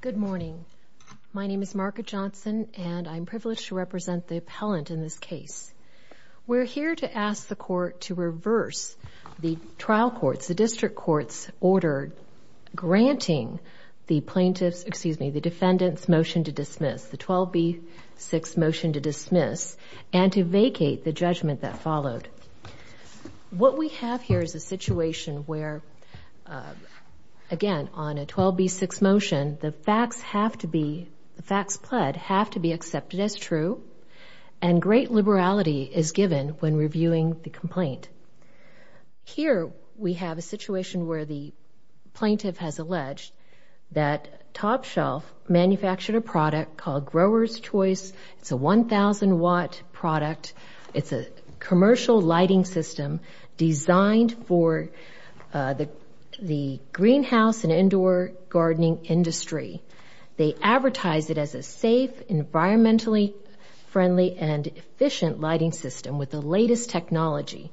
Good morning. My name is Margaret Johnson, and I'm privileged to represent the appellant in this case. We're here to ask the Court to reverse the trial courts, the district courts, order granting the plaintiff's, excuse me, the defendant's motion to dismiss, the 12b-6 motion to dismiss, and to vacate the judgment that followed. What we have here is a situation where, again, on a 12b-6 motion, the facts have to be, the facts pled, have to be accepted as true, and great liberality is given when reviewing the complaint. Here we have a situation where the plaintiff has alleged that Top Shelf manufactured a product called Grower's Choice. It's a 1,000-watt product. It's a commercial lighting system designed for the greenhouse and indoor gardening industry. They advertise it as a safe, environmentally friendly, and efficient lighting system with the latest technology.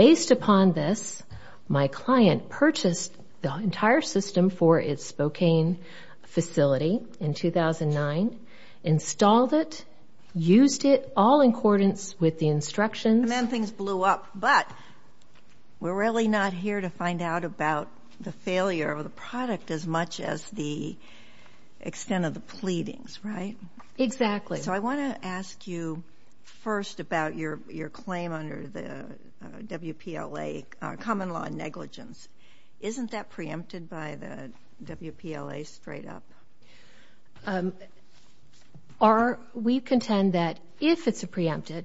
Based upon this, my client purchased the entire system for its Spokane facility in 2009, installed it, used it, all in accordance with the instructions. And then things blew up. But we're really not here to find out about the failure of the product as much as the extent of the pleadings, right? Exactly. So I want to ask you first about your claim under the WPLA common law negligence. Isn't that preempted by the WPLA straight up? We contend that if it's preempted,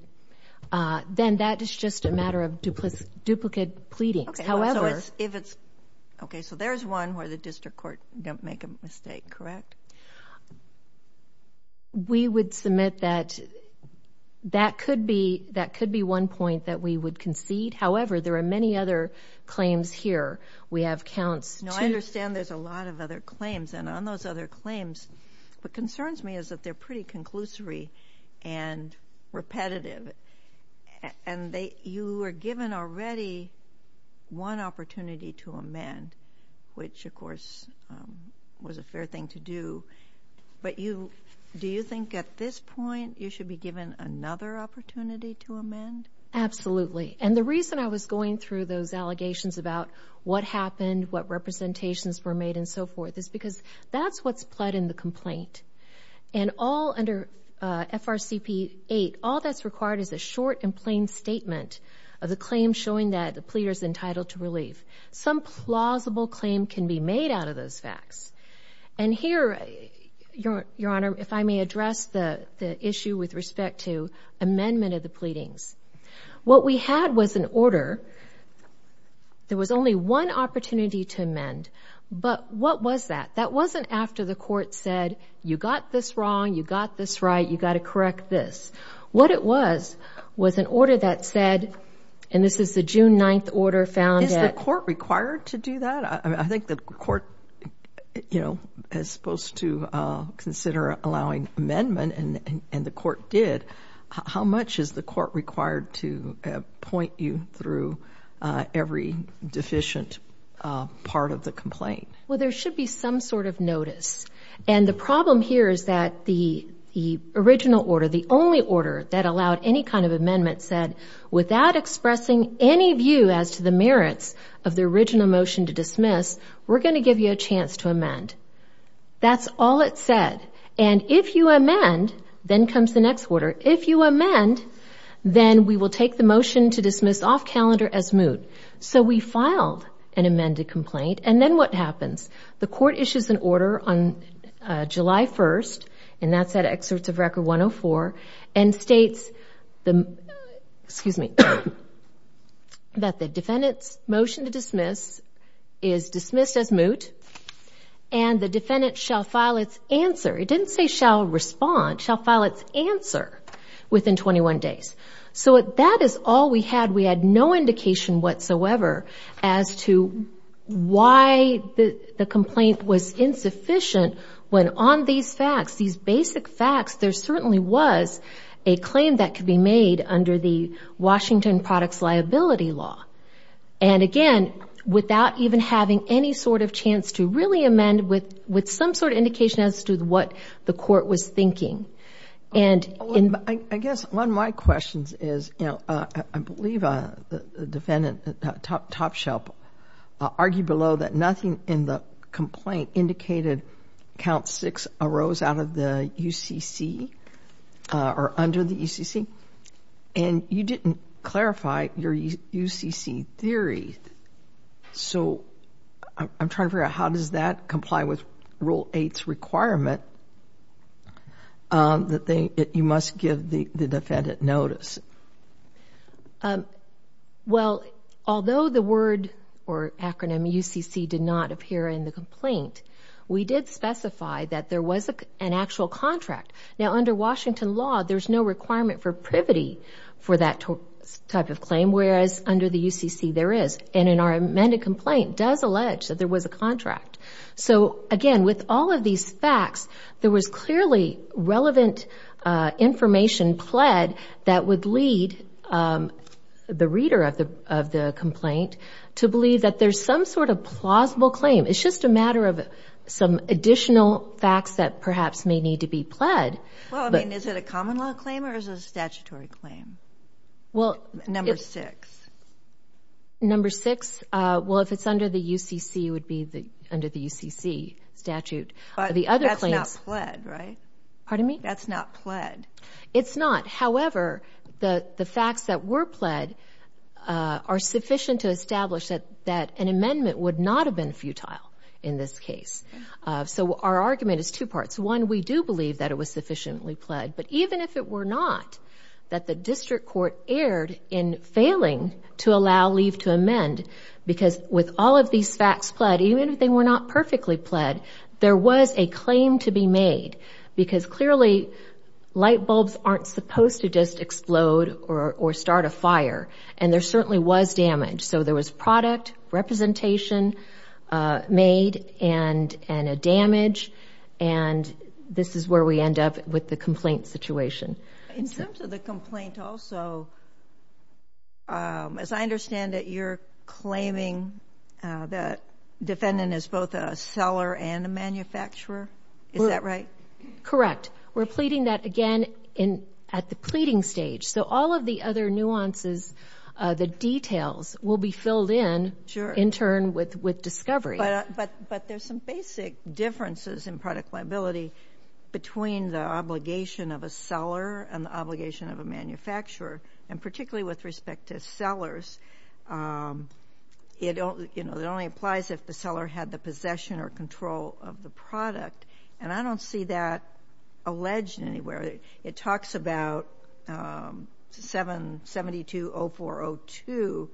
then that is just a matter of duplicate pleadings. Okay, so there's one where the district court didn't make a mistake, correct? We would submit that that could be one point that we would concede. However, there are many other claims here. We have counts. No, I understand there's a lot of other claims. And on those other claims, what concerns me is that they're pretty conclusory and repetitive. And you were given already one opportunity to amend, which, of course, was a fair thing to do. But do you think at this point you should be given another opportunity to amend? Absolutely. And the reason I was going through those allegations about what happened, what representations were made, and so forth, is because that's what's pled in the complaint. And all under FRCP 8, all that's required is a short and plain statement of the claim showing that the pleader is entitled to relief. Some plausible claim can be made out of those facts. And here, Your Honor, if I may address the issue with respect to amendment of the pleadings. What we had was an order. There was only one opportunity to amend. But what was that? That wasn't after the court said, you got this wrong, you got this right, you got to correct this. What it was was an order that said, and this is the June 9th order found at- Is the court required to do that? I think the court, you know, is supposed to consider allowing amendment, and the court did. How much is the court required to point you through every deficient part of the complaint? Well, there should be some sort of notice. And the problem here is that the original order, the only order that allowed any kind of amendment said, without expressing any view as to the merits of the original motion to dismiss, we're going to give you a chance to amend. That's all it said. And if you amend, then comes the next order. If you amend, then we will take the motion to dismiss off calendar as moot. So we filed an amended complaint, and then what happens? The court issues an order on July 1st, and that's at Excerpts of Record 104, and states that the defendant's motion to dismiss is dismissed as moot, and the defendant shall file its answer. It didn't say shall respond. Shall file its answer within 21 days. So that is all we had. We had no indication whatsoever as to why the complaint was insufficient when on these facts, these basic facts, there certainly was a claim that could be made under the Washington Products Liability Law. And, again, without even having any sort of chance to really amend with some sort of indication as to what the court was thinking. I guess one of my questions is, you know, I believe the defendant, Top Shelf, argued below that nothing in the complaint indicated Count 6 arose out of the UCC or under the UCC, and you didn't clarify your UCC theory. So I'm trying to figure out how does that comply with Rule 8's requirement that you must give the defendant notice? Well, although the word or acronym UCC did not appear in the complaint, we did specify that there was an actual contract. Now, under Washington law, there's no requirement for privity for that type of claim, whereas under the UCC, there is. And in our amended complaint, it does allege that there was a contract. So, again, with all of these facts, there was clearly relevant information pled that would lead the reader of the complaint to believe that there's some sort of plausible claim. It's just a matter of some additional facts that perhaps may need to be pled. Well, I mean, is it a common law claim or is it a statutory claim? Number six. Number six? Well, if it's under the UCC, it would be under the UCC statute. But that's not pled, right? Pardon me? That's not pled. It's not. However, the facts that were pled are sufficient to establish that an amendment would not have been futile in this case. So our argument is two parts. One, we do believe that it was sufficiently pled. But even if it were not, that the district court erred in failing to allow leave to amend, because with all of these facts pled, even if they were not perfectly pled, there was a claim to be made because clearly light bulbs aren't supposed to just explode or start a fire. And there certainly was damage. So there was product representation made and a damage. And this is where we end up with the complaint situation. In terms of the complaint also, as I understand it, you're claiming that defendant is both a seller and a manufacturer. Is that right? Correct. We're pleading that again at the pleading stage. So all of the other nuances, the details, will be filled in in turn with discovery. But there's some basic differences in product liability between the obligation of a seller and the obligation of a manufacturer. And particularly with respect to sellers, it only applies if the seller had the possession or control of the product. And I don't see that alleged anywhere. It talks about 77020402,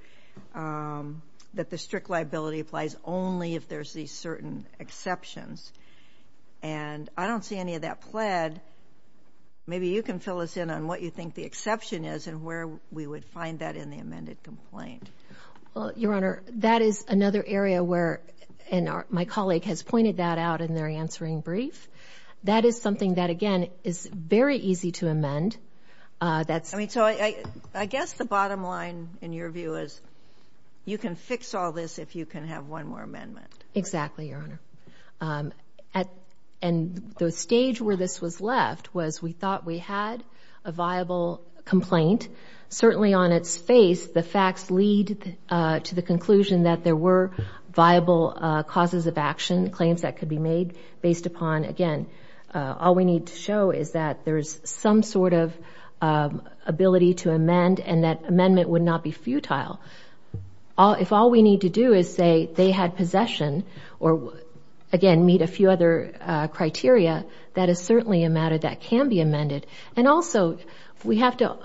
that the strict liability applies only if there's these certain exceptions. And I don't see any of that pled. Maybe you can fill us in on what you think the exception is and where we would find that in the amended complaint. Well, Your Honor, that is another area where my colleague has pointed that out in their answering brief. That is something that, again, is very easy to amend. So I guess the bottom line, in your view, is you can fix all this if you can have one more amendment. Exactly, Your Honor. And the stage where this was left was we thought we had a viable complaint. Certainly on its face, the facts lead to the conclusion that there were viable causes of action, claims that could be made, based upon, again, all we need to show is that there's some sort of ability to amend and that amendment would not be futile. If all we need to do is say they had possession or, again, meet a few other criteria, that is certainly a matter that can be amended. And also, we have to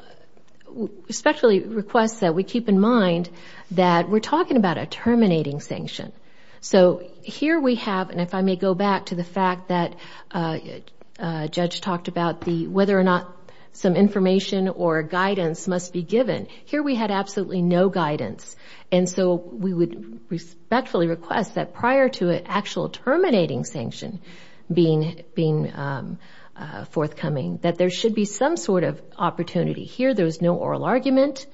respectfully request that we keep in mind that we're talking about a terminating sanction. So here we have, and if I may go back to the fact that Judge talked about whether or not some information or guidance must be given, here we had absolutely no guidance. And so we would respectfully request that prior to an actual terminating sanction being forthcoming, that there should be some sort of opportunity. Here there was no oral argument.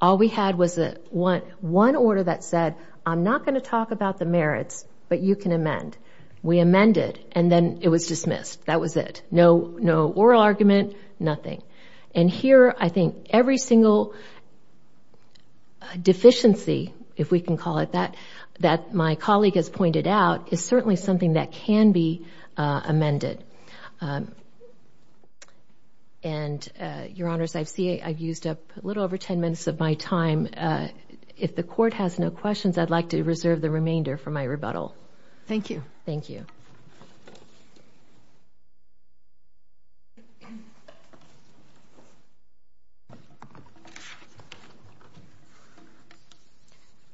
All we had was one order that said, I'm not going to talk about the merits, but you can amend. We amended, and then it was dismissed. That was it. No oral argument, nothing. And here I think every single deficiency, if we can call it that, that my colleague has pointed out is certainly something that can be amended. And, Your Honors, I see I've used up a little over ten minutes of my time. If the Court has no questions, I'd like to reserve the remainder for my rebuttal. Thank you. Thank you.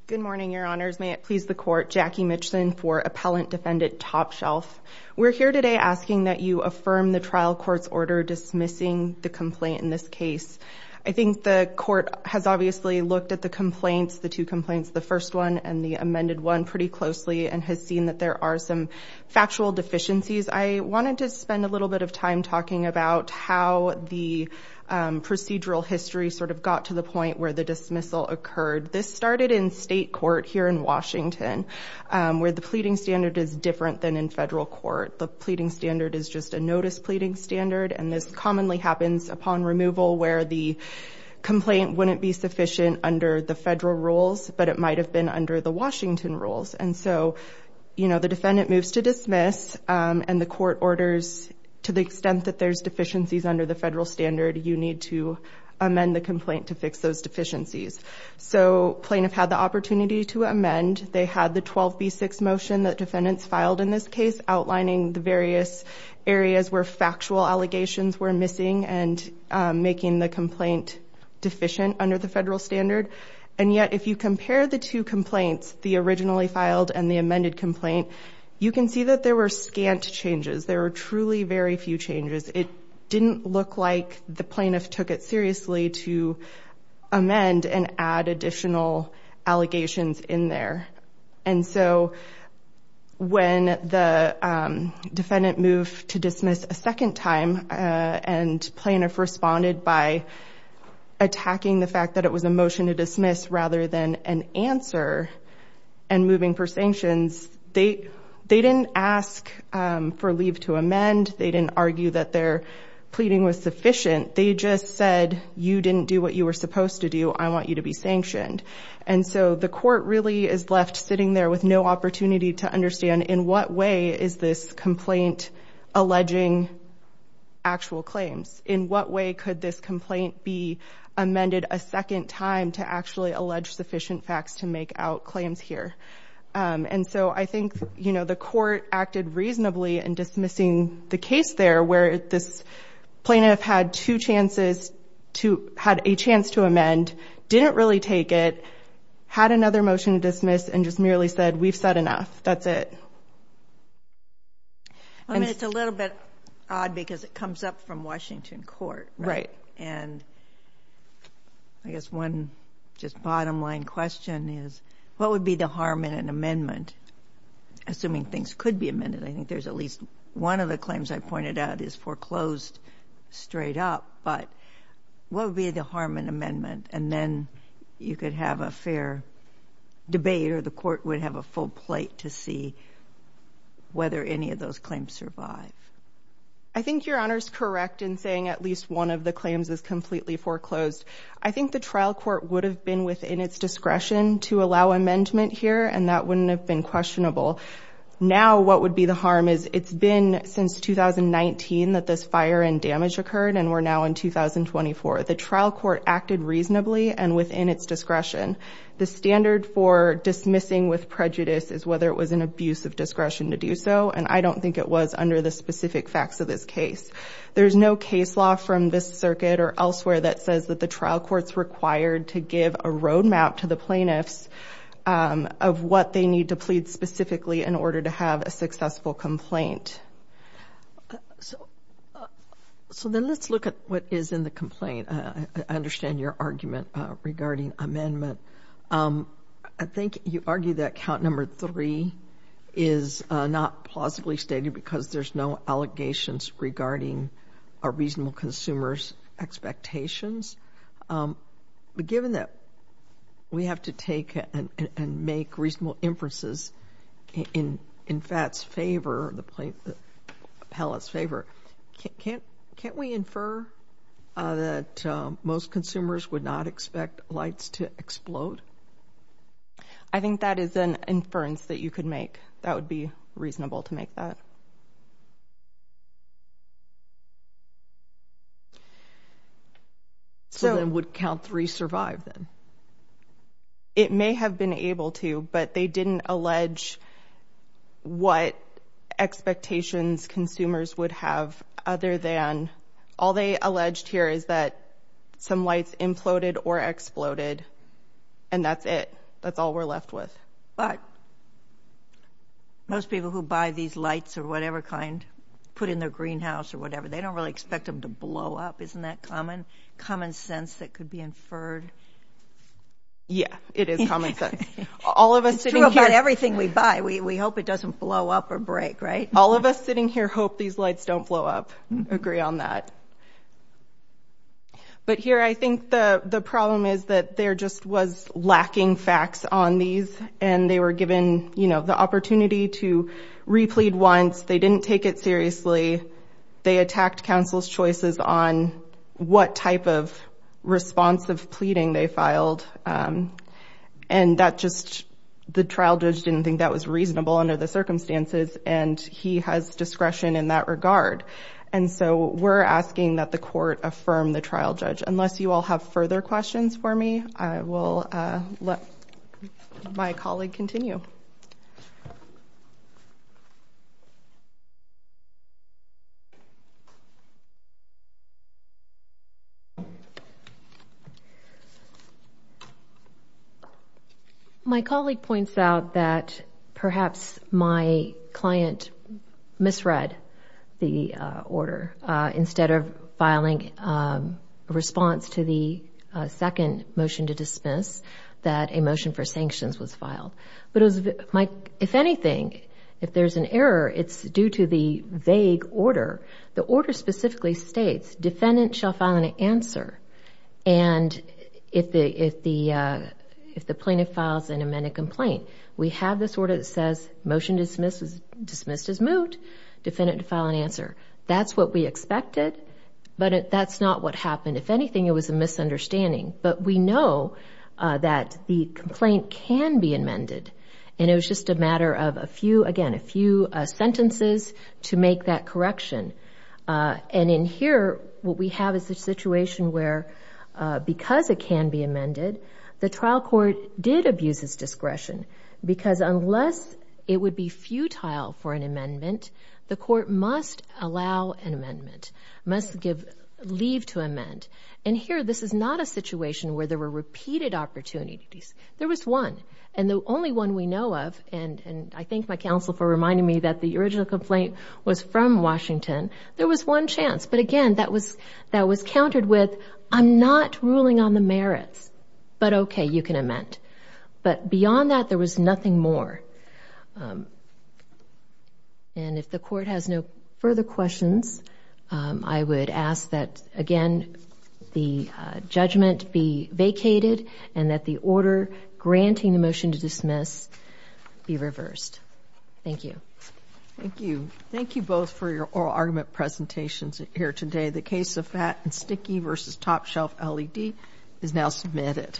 Good morning, Your Honors. May it please the Court. Jackie Mitchison for Appellant Defendant Top Shelf. We're here today asking that you affirm the trial court's order dismissing the complaint in this case. I think the Court has obviously looked at the complaints, the two complaints, the first one and the amended one, pretty closely, and has seen that there are some factual deficiencies. I wanted to spend a little bit of time talking about how the procedural history sort of got to the point where the dismissal occurred. This started in state court here in Washington, where the pleading standard is different than in federal court. The pleading standard is just a notice pleading standard, and this commonly happens upon removal where the complaint wouldn't be sufficient under the federal rules, but it might have been under the Washington rules. And so, you know, the defendant moves to dismiss, and the court orders, to the extent that there's deficiencies under the federal standard, you need to amend the complaint to fix those deficiencies. So plaintiff had the opportunity to amend. They had the 12B6 motion that defendants filed in this case, outlining the various areas where factual allegations were missing and making the complaint deficient under the federal standard. And yet, if you compare the two complaints, the originally filed and the amended complaint, you can see that there were scant changes. There were truly very few changes. It didn't look like the plaintiff took it seriously to amend and add additional allegations in there. And so when the defendant moved to dismiss a second time and plaintiff responded by attacking the fact that it was a motion to dismiss rather than an answer and moving for sanctions, they didn't ask for leave to amend. They didn't argue that their pleading was sufficient. They just said, you didn't do what you were supposed to do. I want you to be sanctioned. And so the court really is left sitting there with no opportunity to understand, in what way is this complaint alleging actual claims? In what way could this complaint be amended a second time to actually allege sufficient facts to make out claims here? And so I think, you know, the court acted reasonably in dismissing the case there where this plaintiff had two chances to ‑‑ had a chance to amend, didn't really take it, had another motion to dismiss, and just merely said, we've said enough, that's it. I mean, it's a little bit odd because it comes up from Washington court. Right. And I guess one just bottom line question is, what would be the harm in an amendment? Assuming things could be amended, I think there's at least one of the claims I pointed out is foreclosed straight up, but what would be the harm in amendment? And then you could have a fair debate or the court would have a full plate to see whether any of those claims survive. I think Your Honor is correct in saying at least one of the claims is completely foreclosed. I think the trial court would have been within its discretion to allow amendment here, and that wouldn't have been questionable. Now what would be the harm is, it's been since 2019 that this fire and damage occurred, and we're now in 2024. The trial court acted reasonably and within its discretion. The standard for dismissing with prejudice is whether it was an abuse of discretion to do so, and I don't think it was under the specific facts of this case. There's no case law from this circuit or elsewhere that says that the trial court's required to give a road map to the plaintiffs of what they need to plead specifically in order to have a successful complaint. So then let's look at what is in the complaint. I understand your argument regarding amendment. I think you argue that count number three is not plausibly stated because there's no allegations regarding a reasonable consumer's expectations. But given that we have to take and make reasonable inferences in FATS' favor, the palace favor, can't we infer that most consumers would not expect lights to explode? I think that is an inference that you could make. That would be reasonable to make that. So then would count three survive then? It may have been able to, but they didn't allege what expectations consumers would have other than all they alleged here is that some lights imploded or exploded, and that's it. That's all we're left with. But most people who buy these lights or whatever kind, put in their greenhouse or whatever, they don't really expect them to blow up. Isn't that common sense that could be inferred? Yeah, it is common sense. It's true about everything we buy. We hope it doesn't blow up or break, right? All of us sitting here hope these lights don't blow up, agree on that. But here I think the problem is that there just was lacking facts on these, and they were given the opportunity to replead once. They didn't take it seriously. They attacked counsel's choices on what type of responsive pleading they filed, and the trial judge didn't think that was reasonable under the circumstances, and he has discretion in that regard. And so we're asking that the court affirm the trial judge. Unless you all have further questions for me, I will let my colleague continue. Thank you. My colleague points out that perhaps my client misread the order. Instead of filing a response to the second motion to dismiss, that a motion for sanctions was filed. If anything, if there's an error, it's due to the vague order. The order specifically states defendant shall file an answer, and if the plaintiff files an amended complaint. We have this order that says motion dismissed is moot, defendant to file an answer. That's what we expected, but that's not what happened. If anything, it was a misunderstanding. But we know that the complaint can be amended, and it was just a matter of, again, a few sentences to make that correction. And in here, what we have is a situation where because it can be amended, the trial court did abuse its discretion because unless it would be futile for an amendment, the court must allow an amendment, must leave to amend. And here, this is not a situation where there were repeated opportunities. There was one, and the only one we know of, and I thank my counsel for reminding me that the original complaint was from Washington, there was one chance. But again, that was countered with, I'm not ruling on the merits, but okay, you can amend. But beyond that, there was nothing more. And if the court has no further questions, I would ask that, again, the judgment be vacated and that the order granting the motion to dismiss be reversed. Thank you. Thank you. Thank you both for your oral argument presentations here today. The case of Fat and Sticky v. Top Shelf LED is now submitted.